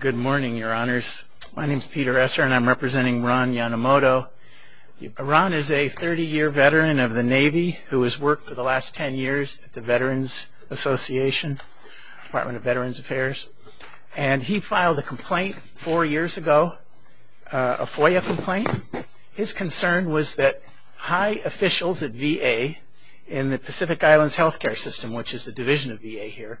Good morning, your honors. My name is Peter Esser and I'm representing Ron Yonemoto. Ron is a 30-year veteran of the Navy who has worked for the last 10 years at the Veterans Association, Department of Veterans Affairs. And he filed a complaint four years ago, a FOIA complaint. His concern was that high officials at VA in the Pacific Islands Health Care System, which is a division of VA here,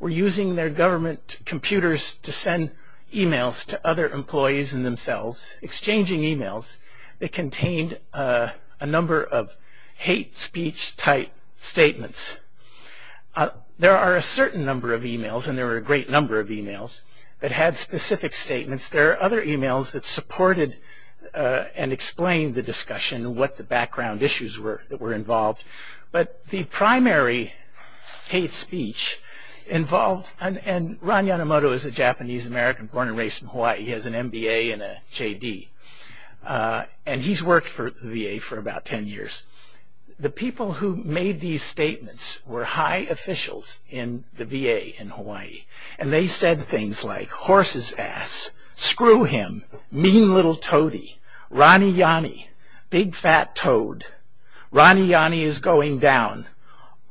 were using their government computers to send e-mails to other employees and themselves, exchanging e-mails that contained a number of hate speech type statements. There are a certain number of e-mails, and there were a great number of e-mails, that had specific statements. There are other e-mails that supported and explained the discussion, what the background issues were that were involved. But the primary hate speech involved, and Ron Yonemoto is a Japanese-American born and raised in Hawaii. He has an MBA and a JD. And he's worked for the VA for about 10 years. The people who made these statements were high officials in the VA in Hawaii. And they said things like, horse's ass, screw him, mean little toady, Ronnie Yonnie, big fat toad. Ronnie Yonnie is going down.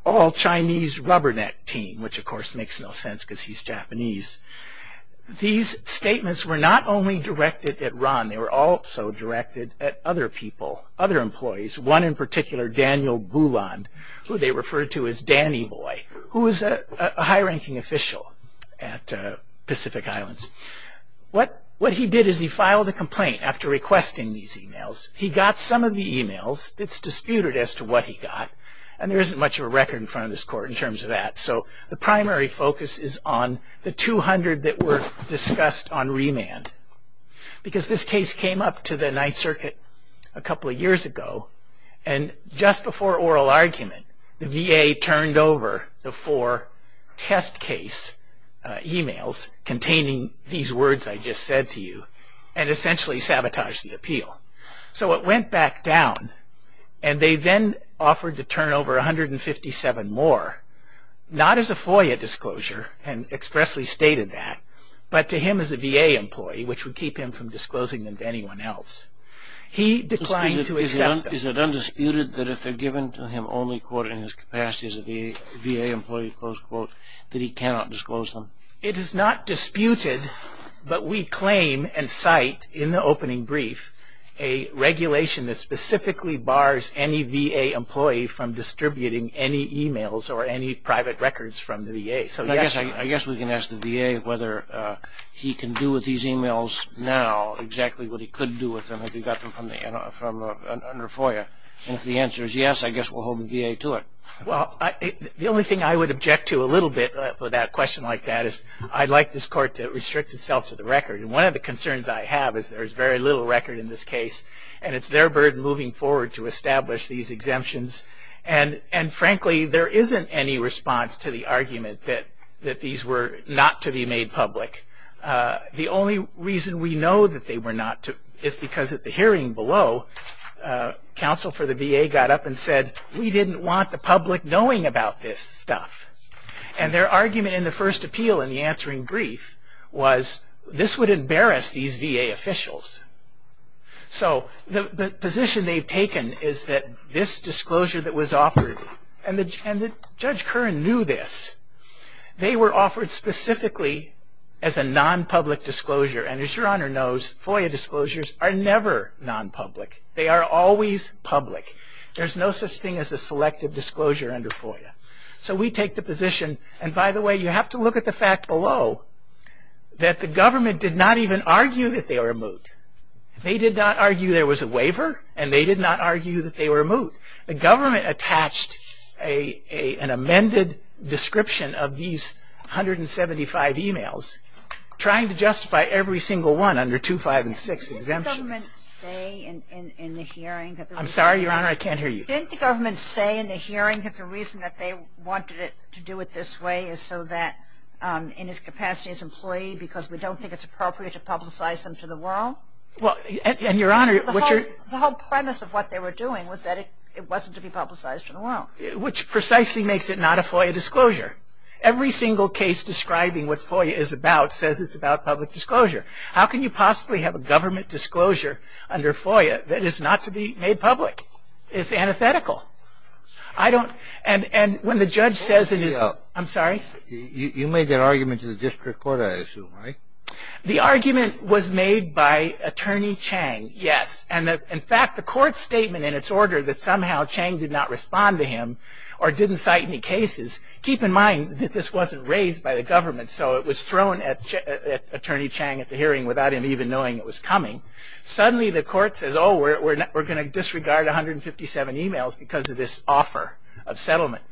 All Chinese rubberneck team, which of course makes no sense because he's Japanese. These statements were not only directed at Ron, they were also directed at other people, other employees. One in particular, Daniel Bouland, who they referred to as Danny Boy, who is a high ranking official at Pacific Islands. What he did is he filed a complaint after requesting these e-mails. He got some of the e-mails. It's disputed as to what he got. And there isn't much of a record in front of this court in terms of that. So the primary focus is on the 200 that were discussed on remand. Because this case came up to the Ninth Circuit a couple of years ago. And just before oral argument, the VA turned over the four test case e-mails containing these words I just said to you, and essentially sabotaged the appeal. So it went back down. And they then offered to turn over 157 more, not as a FOIA disclosure, and expressly stated that, but to him as a VA employee, which would keep him from disclosing them to anyone else. He declined to accept them. Is it undisputed that if they're given to him only, quote, in his capacity as a VA employee, close quote, that he cannot disclose them? It is not disputed. But we claim and cite in the opening brief a regulation that specifically bars any VA employee from distributing any e-mails or any private records from the VA. So yes. I guess we can ask the VA whether he can do with these e-mails now exactly what he could do with them if he got them from under FOIA. And if the answer is yes, I guess we'll hold the VA to it. Well, the only thing I would object to a little bit for that question like that is I'd like this Court to restrict itself to the record. And one of the concerns I have is there is very little record in this case. And it's their burden moving forward to establish these exemptions. And frankly, there isn't any response to the argument that these were not to be disclosed. Because at the hearing below, counsel for the VA got up and said, we didn't want the public knowing about this stuff. And their argument in the first appeal in the answering brief was this would embarrass these VA officials. So the position they've taken is that this disclosure that was offered, and Judge Curran knew this, they were offered specifically as a non-public disclosure. And as Your Honor knows, FOIA disclosures are never non-public. They are always public. There's no such thing as a selective disclosure under FOIA. So we take the position, and by the way, you have to look at the fact below, that the government did not even argue that they were moot. They did not argue there was a waiver. And they did not argue that they were moot. The government attached an amended description of these 175 emails trying to justify every single one under 2, 5, and 6 exemptions. Didn't the government say in the hearing that the reason that they wanted to do it this way is so that in its capacity as an employee, because we don't think it's appropriate to publicize them to the world? Well, and Your Honor, which are The whole premise of what they were doing was that it wasn't to be publicized to the world. Which precisely makes it not a FOIA disclosure. Every single case describing what FOIA is about says it's about public disclosure. How can you possibly have a government disclosure under FOIA that is not to be made public? It's antithetical. I don't, and when the judge says You made that argument to the district court, I assume, right? The argument was made by Attorney Chang, yes. And in fact, the court statement in its order that somehow Chang did not respond to him or didn't cite any cases, keep in mind that this wasn't raised by the government, so it was thrown at Attorney Chang at the hearing without him even knowing it was coming. Suddenly the court says, oh, we're going to disregard 157 emails because of this offer of settlement.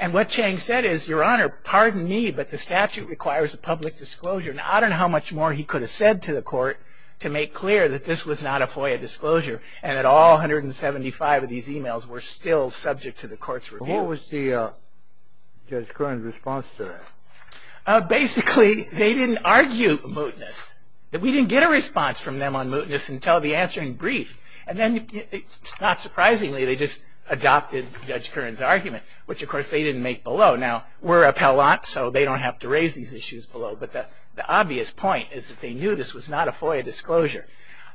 And what Chang said is, Your Honor, pardon me, but the statute requires a public disclosure. Now, I don't know how much more he could have said to the court to make clear that this was not a FOIA disclosure and that all 175 of these emails were still subject to the court's review. What was Judge Kern's response to that? Basically, they didn't argue mootness. We didn't get a response from them on mootness until the answering brief. And then, not surprisingly, they just adopted Judge Kern's argument, which of course they didn't make below. Now, we're appellate, so they don't have to raise these issues below, but the obvious point is that they knew this was not a FOIA disclosure.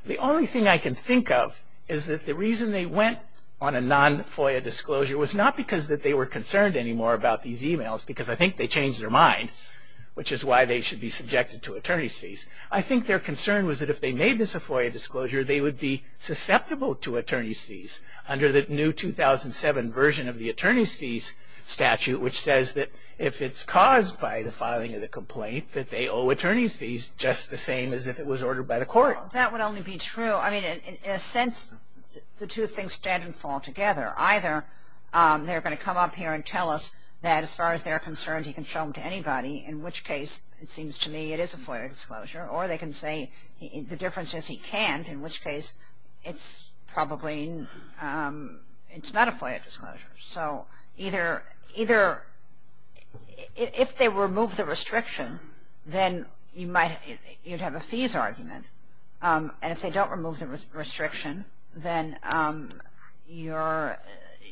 The only thing I can think of is that the reason they went on a non-FOIA disclosure was not because that they were concerned anymore about these emails, because I think they changed their mind, which is why they should be subjected to attorney's fees. I think their concern was that if they made this a FOIA disclosure, they would be susceptible to attorney's fees under the new 2007 version of the attorney's fees statute, which says that if it's caused by the filing of the complaint that they owe attorney's fees just the same as if it was ordered by the court. That would only be true, I mean, in a sense, the two things stand and fall together. Either they're going to come up here and tell us that as far as they're concerned, he can show them to anybody, in which case it seems to me it is a FOIA disclosure, or they can say the difference is he can't, in which case it's probably, it's not a FOIA disclosure. So either, if they remove the restriction, then you might, you'd have a fees argument, and if they don't remove the restriction, then you're,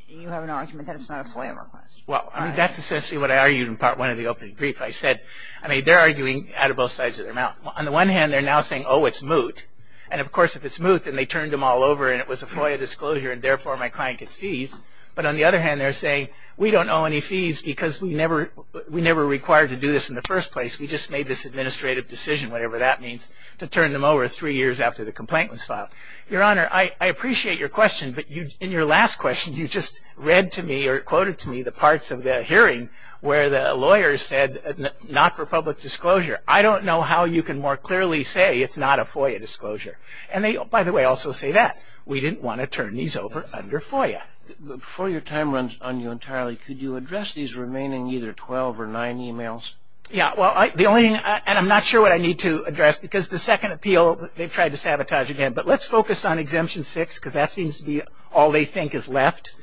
you have an argument that it's not a FOIA request. Well, I mean, that's essentially what I argued in Part 1 of the opening brief. I said, I mean, they're arguing out of both sides of their mouth. On the one hand, they're now saying, oh, it's moot, and of course if it's moot, then they turned them all over and it was a FOIA disclosure, and therefore my client gets fees. But on the other hand, they're saying, we don't owe any fees because we never, we never required to do this in the first place. We just made this administrative decision, whatever that means, to turn them over three years after the complaint was filed. Your Honor, I appreciate your question, but you, in your last question, you just read to me or quoted to me the parts of the hearing where the lawyer said not for public disclosure. I don't know how you can more clearly say it's not a FOIA disclosure. And they, by the way, also say that. We didn't want to turn these over under FOIA. Before your time runs on you entirely, could you address these remaining either 12 or 9 emails? Yeah, well, the only, and I'm not sure what I need to address, because the second appeal they've tried to sabotage again. But let's focus on Exemption 6, because that seems to be all they think is left.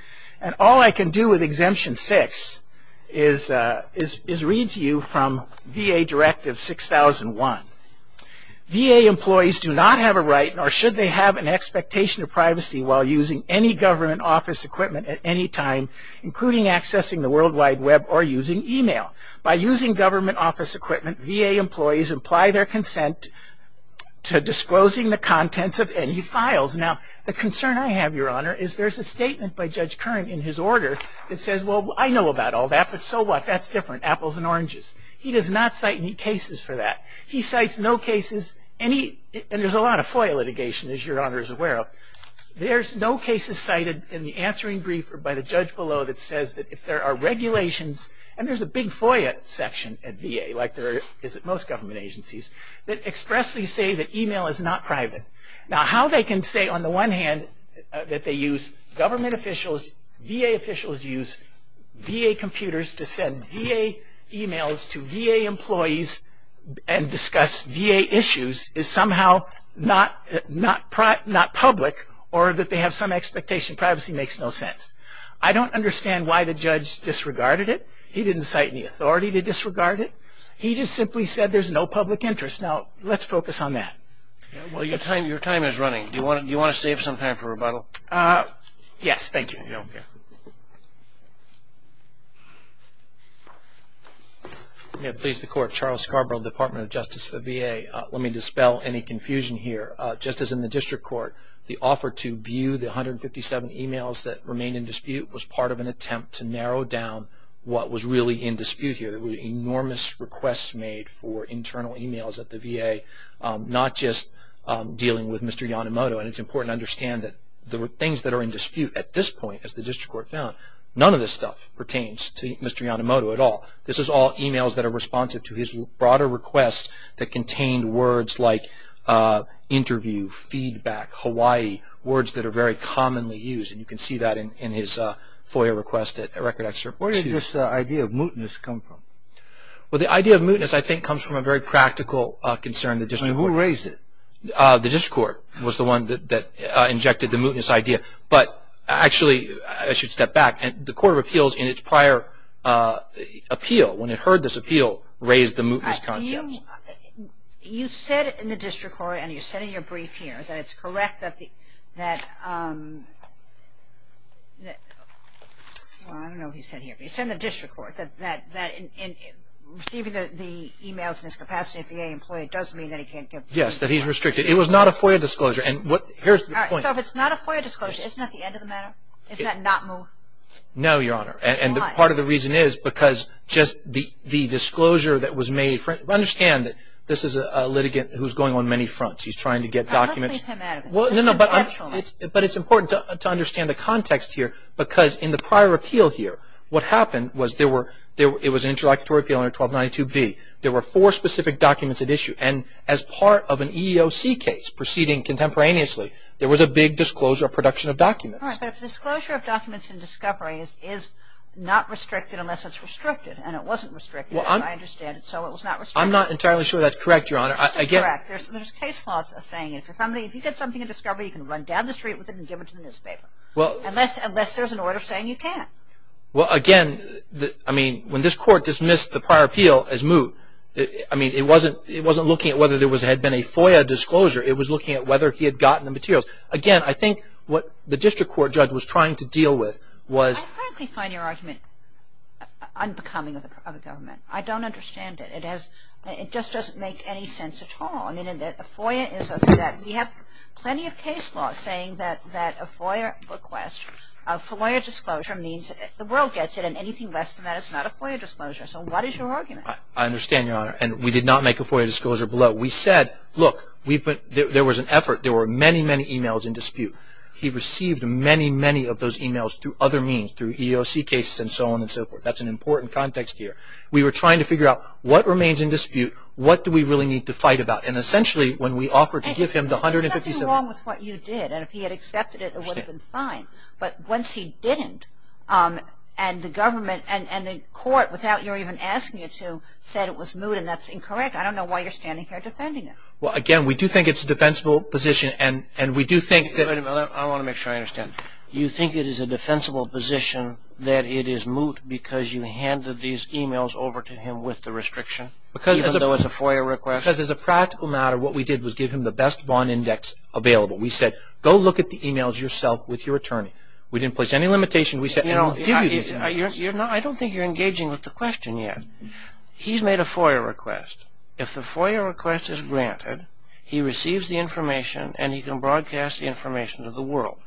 And all I can do with Exemption 6 is read to you from VA Directive 6001. VA employees do not have a right, nor should they have an expectation of privacy while using any government office equipment at any time, including accessing the World Wide Web or using email. By using government office equipment, VA employees imply their consent to disclosing the contents of any files. Now, the concern I have, your Honor, is there's a statement by Judge Kern in his order that says, well, I know about all that, but so what? That's different, apples and oranges. He does not cite any cases for that. He cites no cases, any, and there's a lot of FOIA litigation, as your Honor is aware of. There's no cases cited in the answering brief or by the judge below that says that if there are regulations, and there's a big FOIA section at VA, like there is at most government agencies, that expressly say that email is not private. Now, how they can say, on the one hand, that they use government officials, VA officials use VA computers to send VA emails to VA employees and discuss VA issues is somehow not public or that they have some expectation. Privacy makes no sense. I don't understand why the judge disregarded it. He didn't cite any authority to disregard it. He just simply said there's no public interest. Now, let's focus on that. Well, your time is running. Do you want to save some time for rebuttal? Yes, thank you. No, I'm good. Charles Scarborough, Department of Justice of the VA. Let me dispel any confusion here. Just as in the district court, the offer to view the 157 emails that remain in dispute was part of an attempt to narrow down what was really in dispute here. There were enormous requests made for internal emails at the VA, not just dealing with Mr. Yonemoto. And it's important to understand that the things that are in dispute at this point, as the district court found, none of this stuff pertains to Mr. Yonemoto at all. This is all emails that are responsive to his broader requests that contained words like interview, feedback, Hawaii, words that are very commonly used. And you can see that in his FOIA request at Record Excerpt 2. Where did this idea of mootness come from? Well, the idea of mootness, I think, comes from a very practical concern. I mean, who raised it? The district court was the one that injected the mootness idea. But actually, I should step back. The Court of Appeals in its prior appeal, when it heard this appeal, raised the mootness concept. You said in the district court, and you said in your brief here, that it's correct that the, that I don't know what you said here, but you said in the district court that receiving the emails in this capacity at the VA employee does mean that he can't get. Yes, that he's restricted. It was not a FOIA disclosure. And what, here's the point. So if it's not a FOIA disclosure, isn't that the end of the matter? Isn't that not moot? No, Your Honor. And part of the reason is because just the disclosure that was made. Understand that this is a litigant who's going on many fronts. He's trying to get documents. Well, no, no, but it's important to understand the context here. Because in the prior appeal here, what happened was there were, it was an interlocutory appeal under 1292B. There were four specific documents at issue. And as part of an EEOC case proceeding contemporaneously, there was a big disclosure of production of documents. All right, but a disclosure of documents in discovery is not restricted unless it's restricted. And it wasn't restricted, as I understand it. So it was not restricted. I'm not entirely sure that's correct, Your Honor. I guess. This is correct. There's case laws that are saying if somebody, if you get something in discovery, you can run down the street with it and give it to the newspaper. Well. Unless, unless there's an order saying you can't. Well, again, I mean, when this court dismissed the prior appeal as moot, I mean, it wasn't looking at whether there had been a FOIA disclosure. It was looking at whether he had gotten the materials. Again, I think what the district court judge was trying to deal with was. I frankly find your argument unbecoming of the government. I don't understand it. It has, it just doesn't make any sense at all. I mean, a FOIA is a, we have plenty of case laws saying that a FOIA request, a FOIA disclosure means the world gets it. And anything less than that is not a FOIA disclosure. So what is your argument? I understand, Your Honor. And we did not make a FOIA disclosure below. We said, look, we've put, there was an effort. There were many, many emails in dispute. He received many, many of those emails through other means, through EOC cases and so on and so forth. That's an important context here. We were trying to figure out, what remains in dispute? What do we really need to fight about? And essentially, when we offered to give him the $157. There's nothing wrong with what you did. And if he had accepted it, it would have been fine. But once he didn't, and the government, and, and the court, without your even asking you to, said it was moot, and that's incorrect. I don't know why you're standing here defending it. Well, again, we do think it's a defensible position, and, and we do think that. Wait a minute, I want to make sure I understand. You think it is a defensible position that it is moot because you handed these emails over to him with the restriction, even though it's a FOIA request? Because as a practical matter, what we did was give him the best bond index available. We said, go look at the emails yourself with your attorney. We said, we'll give you these emails. You're, you're not, I don't think you're engaging with the question yet. He's made a FOIA request. If the FOIA request is granted, he receives the information, and he can broadcast the information to the world.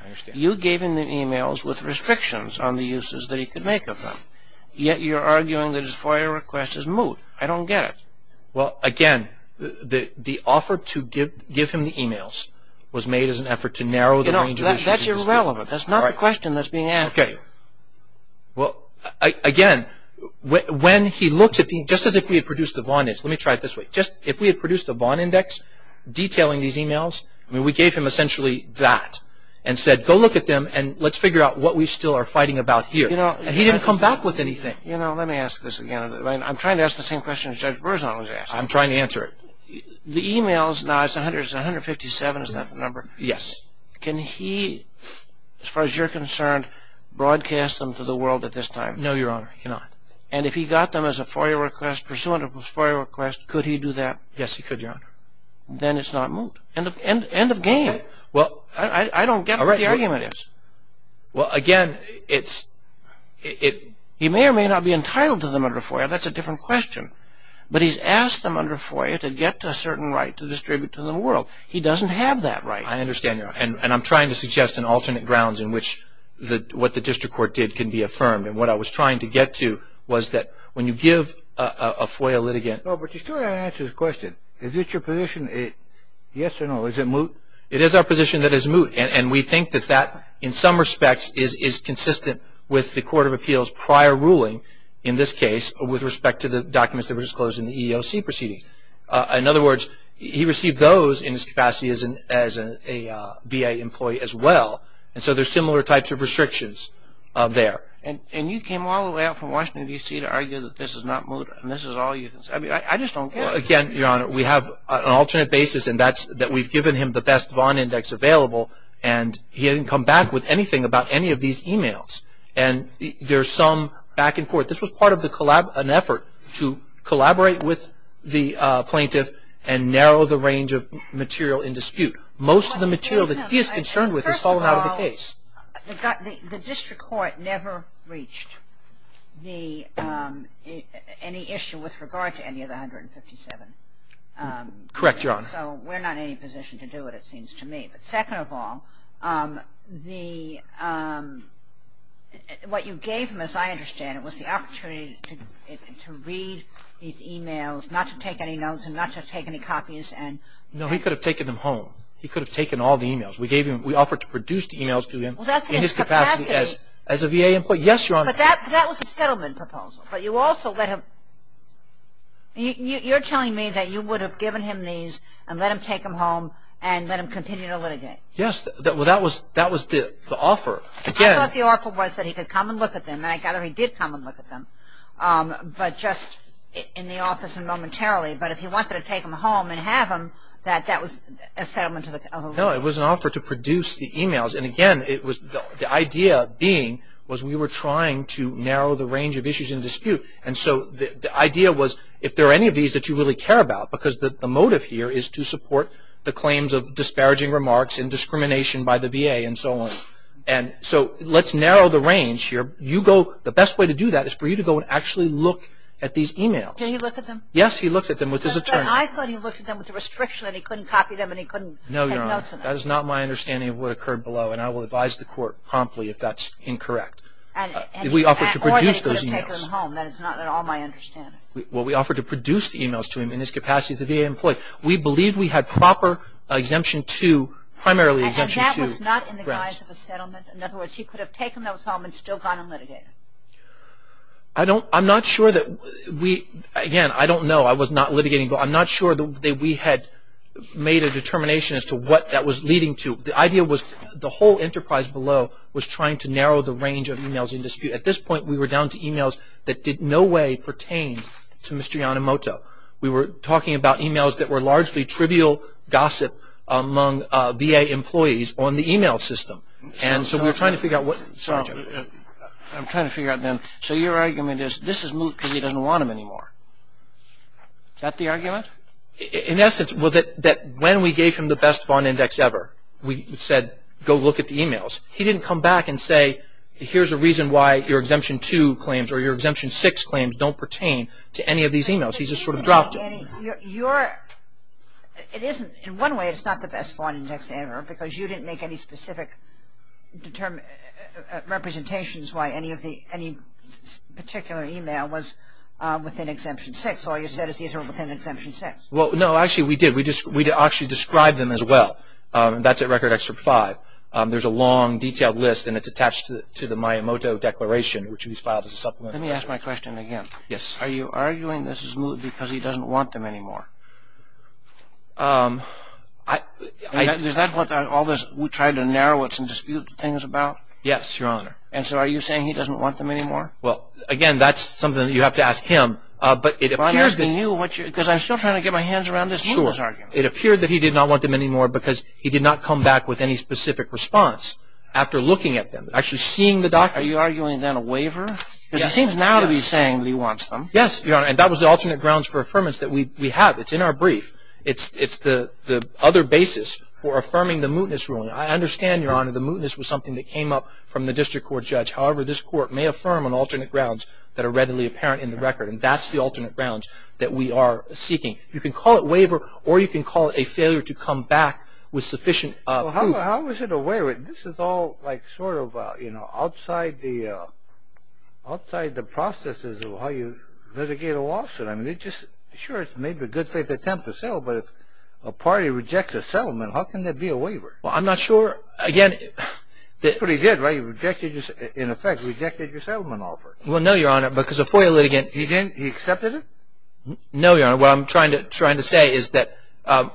I understand. You gave him the emails with restrictions on the uses that he could make of them. Yet you're arguing that his FOIA request is moot. I don't get it. Well, again, the, the offer to give, give him the emails was made as an effort to narrow the range of issues. That's irrelevant. That's not the question that's being asked. Okay. Well, I, again, when, when he looks at the, just as if we had produced a bond index. Let me try it this way. Just, if we had produced a bond index detailing these emails, I mean, we gave him essentially that. And said, go look at them, and let's figure out what we still are fighting about here. You know. And he didn't come back with anything. You know, let me ask this again, and I'm trying to ask the same question as Judge Berzon was asking. I'm trying to answer it. The emails, now it's 100, it's 157, is that the number? Yes. Can he, as far as you're concerned, broadcast them to the world at this time? No, your honor, he cannot. And if he got them as a FOIA request, pursuant of his FOIA request, could he do that? Yes, he could, your honor. Then it's not moot. End of, end, end of game. Well, I, I, I don't get what the argument is. Well, again, it's, it, it. He may or may not be entitled to them under FOIA, that's a different question. But he's asked them under FOIA to get a certain right to distribute to the world. He doesn't have that right. I understand, your honor. And, and I'm trying to suggest an alternate grounds in which the, what the district court did can be affirmed. And what I was trying to get to was that when you give a, a, a FOIA litigant. No, but you still haven't answered his question. Is this your position, it, yes or no? Is it moot? It is our position that it's moot. And, and we think that that, in some respects, is, is consistent with the court of appeals prior ruling in this case with respect to the documents that were disclosed in the EEOC proceedings. In other words, he received those in his capacity as an, as a VA employee as well. And so there's similar types of restrictions there. And, and you came all the way out from Washington, D.C. to argue that this is not moot. And this is all you can say. I mean, I, I just don't get it. Well, again, your honor, we have an alternate basis. And that's, that we've given him the best Vaughn index available. And he hadn't come back with anything about any of these emails. And there's some back and forth. This was part of the, an effort to collaborate with the plaintiff and narrow the range of material in dispute. Most of the material that he is concerned with has fallen out of the case. The district court never reached the, any issue with regard to any of the 157. Correct, your honor. So we're not in any position to do it, it seems to me. But second of all, the, what you gave him, as I understand it, was the opportunity to, to read these emails, not to take any notes, and not to take any copies, and. No, he could have taken them home. He could have taken all the emails. We gave him, we offered to produce the emails to him. Well, that's his capacity. In his capacity as, as a VA employee. Yes, your honor. But that, that was a settlement proposal. But you also let him, you, you're telling me that you would have given him these and let him take them home and let him continue to litigate. Yes, that, well, that was, that was the, the offer. Again. I thought the offer was that he could come and look at them. And I gather he did come and look at them. But just in the office and momentarily. But if he wanted to take them home and have them, that, that was a settlement of a. No, it was an offer to produce the emails. And again, it was the idea being, was we were trying to narrow the range of issues in dispute. And so, the, the idea was, if there are any of these that you really care about. Because the, the motive here is to support the claims of disparaging remarks and discrimination by the VA and so on. And so, let's narrow the range here. You go, the best way to do that is for you to go and actually look at these emails. Did he look at them? Yes, he looked at them with his attorney. I thought he looked at them with a restriction that he couldn't copy them and he couldn't. No, Your Honor. That is not my understanding of what occurred below. And I will advise the court promptly if that's incorrect. And. We offered to produce those emails. Or he could have taken them home. That is not at all my understanding. Well, we offered to produce the emails to him in his capacity as a VA employee. We believed we had proper exemption to, primarily exemption to. And that was not in the guise of a settlement. In other words, he could have taken those home and still gone and litigated. I don't, I'm not sure that we, again, I don't know. I was not litigating. But I'm not sure that we had made a determination as to what that was leading to. The idea was, the whole enterprise below was trying to narrow the range of emails in dispute. At this point, we were down to emails that did no way pertain to Mr. Yonemoto. We were talking about emails that were largely trivial gossip among VA employees on the email system. And so, we were trying to figure out what. Sorry, Jim. I'm trying to figure out then. So, your argument is, this is moot because he doesn't want them anymore. Is that the argument? In essence, well, that when we gave him the best Vaughn Index ever, we said, go look at the emails. He didn't come back and say, here's a reason why your Exemption 2 claims or your Exemption 6 claims don't pertain to any of these emails. He just sort of dropped it. In one way, it's not the best Vaughn Index ever because you didn't make any specific representations why any particular email was within Exemption 6. All you said is these are within Exemption 6. Well, no, actually, we did. We actually described them as well. That's at Record Extra 5. There's a long, detailed list, and it's attached to the Miyamoto Declaration, which was filed as a supplement. Let me ask my question again. Yes. Are you arguing this is moot because he doesn't want them anymore? Is that what all this, we tried to narrow it to dispute things about? Yes, Your Honor. And so, are you saying he doesn't want them anymore? Well, again, that's something that you have to ask him. I'm asking you because I'm still trying to get my hands around this mootness argument. Sure. It appeared that he did not want them anymore because he did not come back with any specific response after looking at them, actually seeing the documents. Are you arguing then a waiver? Because he seems now to be saying that he wants them. Yes, Your Honor, and that was the alternate grounds for affirmance that we have. It's in our brief. It's the other basis for affirming the mootness ruling. I understand, Your Honor, the mootness was something that came up from the district court judge. However, this court may affirm on alternate grounds that are readily apparent in the record, and that's the alternate grounds that we are seeking. You can call it waiver, or you can call it a failure to come back with sufficient proof. Well, how is it a waiver? This is all like sort of outside the processes of how you litigate a lawsuit. Sure, it's maybe a good faith attempt to settle, but if a party rejects a settlement, how can that be a waiver? Well, I'm not sure. That's what he did, right? In effect, he rejected your settlement offer. Well, no, Your Honor, because a FOIA litigant… He accepted it? No, Your Honor. What I'm trying to say is that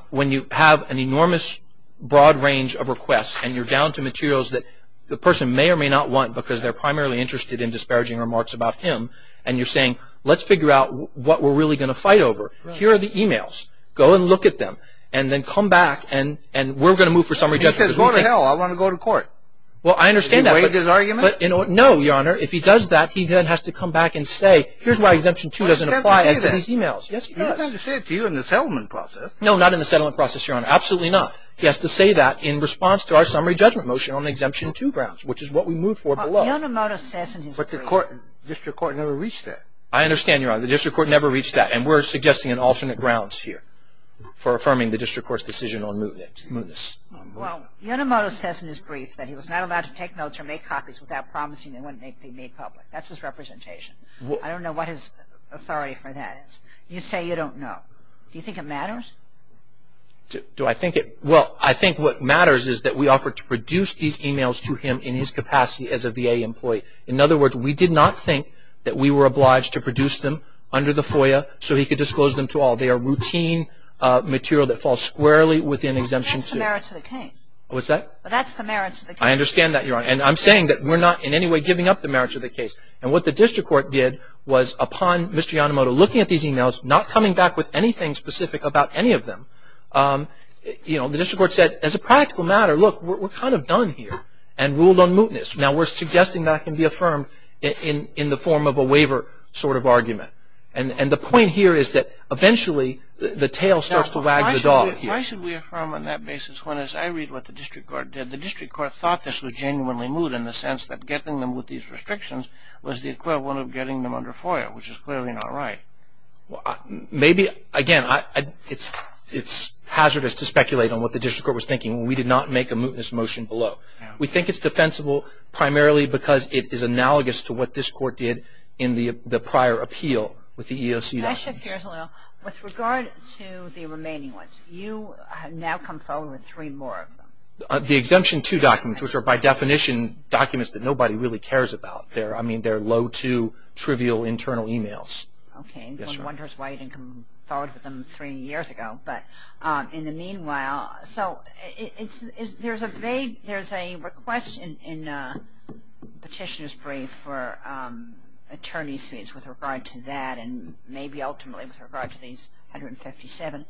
when you have an enormous broad range of requests, and you're down to materials that the person may or may not want because they're primarily interested in disparaging remarks about him, and you're saying, let's figure out what we're really going to fight over. Here are the e-mails. Go and look at them, and then come back, and we're going to move for summary judgment. He says, go to hell. I want to go to court. Well, I understand that. Do you weigh his argument? No, Your Honor. If he does that, he then has to come back and say, here's why Exemption 2 doesn't apply to these e-mails. He doesn't have to say that. Yes, he does. He doesn't have to say it to you in the settlement process. No, not in the settlement process, Your Honor. Absolutely not. He has to say that in response to our summary judgment motion on Exemption 2 grounds, which is what we moved for below. Well, Yonemoto says in his brief… But the district court never reached that. I understand, Your Honor. The district court never reached that, and we're suggesting an alternate grounds here for affirming the district court's decision on Moonis. Well, Yonemoto says in his brief that he was not allowed to take notes or make copies without promising they wouldn't be made public. That's his representation. I don't know what his authority for that is. You say you don't know. Do you think it matters? Do I think it – well, I think what matters is that we offered to produce these e-mails to him in his capacity as a VA employee. In other words, we did not think that we were obliged to produce them under the FOIA so he could disclose them to all. They are routine material that falls squarely within Exemption 2. That's the merit to the case. What's that? That's the merit to the case. I understand that, Your Honor. And I'm saying that we're not in any way giving up the merit to the case. And what the district court did was upon Mr. Yonemoto looking at these e-mails, not coming back with anything specific about any of them, you know, the district court said as a practical matter, look, we're kind of done here and ruled on Moonis. Now, we're suggesting that can be affirmed in the form of a waiver sort of argument. And the point here is that eventually the tail starts to wag the dog here. Why should we affirm on that basis when, as I read what the district court did, the district court thought this was genuinely moot in the sense that getting them with these restrictions was the equivalent of getting them under FOIA, which is clearly not right? Maybe, again, it's hazardous to speculate on what the district court was thinking. We did not make a mootness motion below. We think it's defensible primarily because it is analogous to what this court did in the prior appeal with the EEOC documents. With regard to the remaining ones, you now come forward with three more of them. The Exemption 2 documents, which are by definition documents that nobody really cares about. I mean, they're low-to-trivial internal e-mails. Okay. One wonders why you didn't come forward with them three years ago. But in the meanwhile, so there's a request in Petitioner's brief for attorney's fees with regard to that and maybe ultimately with regard to these 157.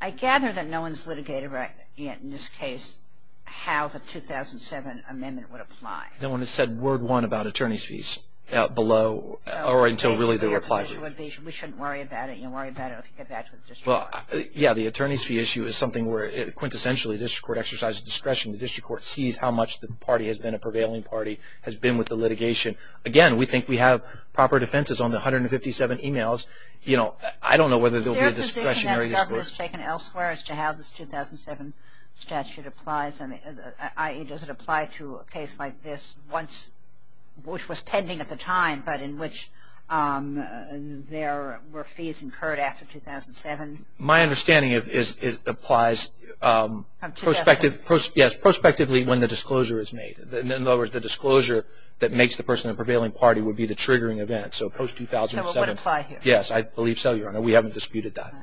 I gather that no one's litigated yet in this case how the 2007 amendment would apply. No one has said word one about attorney's fees below or until really they were applied to. We shouldn't worry about it. You'll worry about it if you get back to the district court. Yeah, the attorney's fee issue is something where quintessentially the district court exercises discretion. The district court sees how much the party has been a prevailing party, has been with the litigation. Again, we think we have proper defenses on the 157 e-mails. You know, I don't know whether there will be a discretionary discourse. Is there a position that government has taken elsewhere as to how this 2007 statute applies? I.e., does it apply to a case like this once, which was pending at the time, but in which there were fees incurred after 2007? My understanding is it applies prospectively when the disclosure is made. In other words, the disclosure that makes the person a prevailing party would be the triggering event. So post-2007. So it would apply here? Yes, I believe so, Your Honor. We haven't disputed that.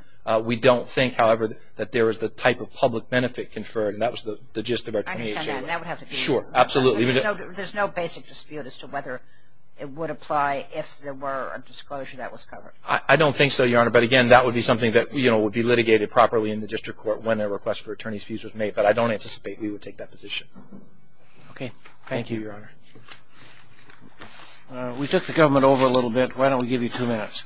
We don't think, however, that there is the type of public benefit conferred. And that was the gist of our 2018. I understand that. And that would have to be. Sure, absolutely. There's no basic dispute as to whether it would apply if there were a disclosure that was covered. I don't think so, Your Honor. But, again, that would be something that would be litigated properly in the district court when a request for attorney's fees was made. But I don't anticipate we would take that position. Okay, thank you, Your Honor. We took the government over a little bit. Why don't we give you two minutes?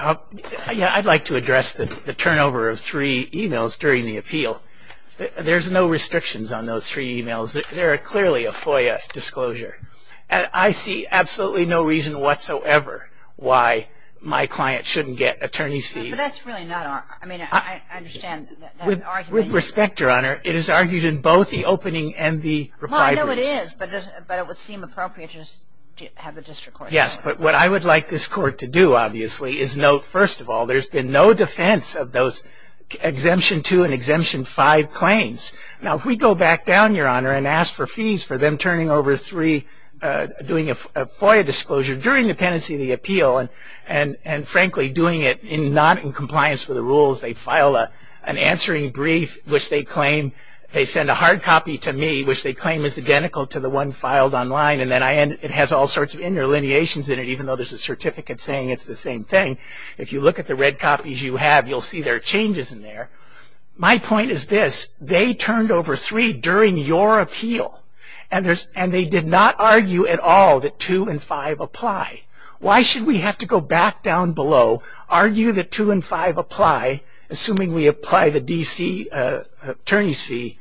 Yeah, I'd like to address the turnover of three e-mails during the appeal. There's no restrictions on those three e-mails. They're clearly a FOIA disclosure. And I see absolutely no reason whatsoever why my client shouldn't get attorney's fees. But that's really not our – I mean, I understand that argument. With respect, Your Honor, it is argued in both the opening and the reply briefs. Well, I know it is, but it would seem appropriate to just have the district court. Yes, but what I would like this court to do, obviously, is note, first of all, there's been no defense of those Exemption 2 and Exemption 5 claims. Now, if we go back down, Your Honor, and ask for fees for them turning over three, doing a FOIA disclosure during the pendency of the appeal, and, frankly, doing it not in compliance with the rules, they file an answering brief, which they claim – they send a hard copy to me, which they claim is identical to the one filed online, and it has all sorts of interlineations in it, even though there's a certificate saying it's the same thing. If you look at the red copies you have, you'll see there are changes in there. My point is this. They turned over three during your appeal, and they did not argue at all that 2 and 5 apply. Why should we have to go back down below, argue that 2 and 5 apply, assuming we apply the D.C. attorney's fee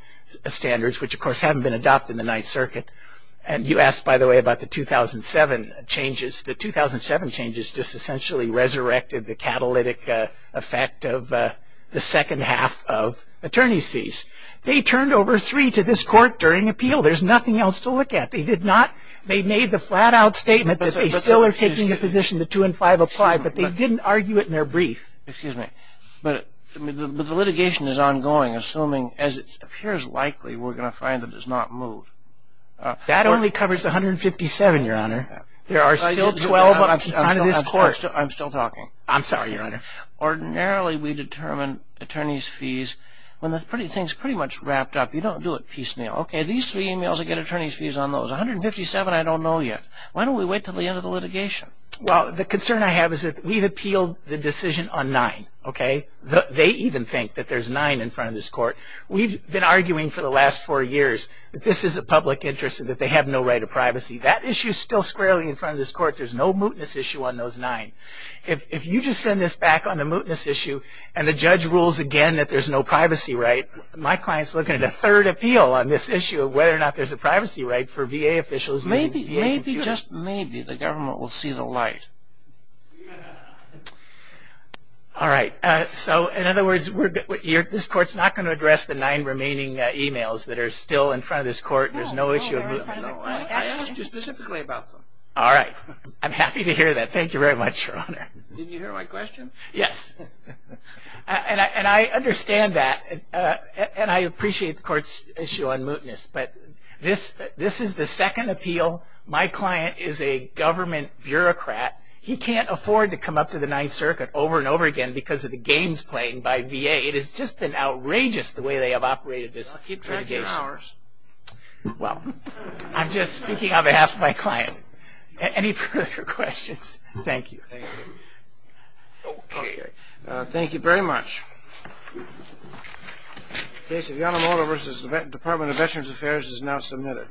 standards, which, of course, haven't been adopted in the Ninth Circuit? And you asked, by the way, about the 2007 changes. The 2007 changes just essentially resurrected the catalytic effect of the second half of attorney's fees. They turned over three to this court during appeal. There's nothing else to look at. They made the flat-out statement that they still are taking a position that 2 and 5 apply, but they didn't argue it in their brief. Excuse me, but the litigation is ongoing, assuming, as it appears likely, we're going to find it does not move. That only covers 157, Your Honor. There are still 12 on this court. I'm still talking. I'm sorry, Your Honor. Ordinarily, we determine attorney's fees when things are pretty much wrapped up. You don't do it piecemeal. Okay, these three emails, I get attorney's fees on those. 157, I don't know yet. Why don't we wait until the end of the litigation? Well, the concern I have is that we've appealed the decision on 9. They even think that there's 9 in front of this court. We've been arguing for the last four years that this is a public interest and that they have no right to privacy. That issue is still squarely in front of this court. There's no mootness issue on those 9. If you just send this back on a mootness issue and the judge rules again that there's no privacy right, my client's looking at a third appeal on this issue of whether or not there's a privacy right for VA officials. Maybe, just maybe the government will see the light. All right, so in other words, this court's not going to address the 9 remaining emails that are still in front of this court. There's no issue. I asked you specifically about them. All right. I'm happy to hear that. Thank you very much, Your Honor. Did you hear my question? Yes. And I understand that, and I appreciate the court's issue on mootness, but this is the second appeal. My client is a government bureaucrat. He can't afford to come up to the Ninth Circuit over and over again because of the games played by VA. It has just been outrageous the way they have operated this litigation. Well, I'm just speaking on behalf of my client. Any further questions? Thank you. Okay. Thank you very much. The case of Yanomoto v. Department of Veterans Affairs is now submitted.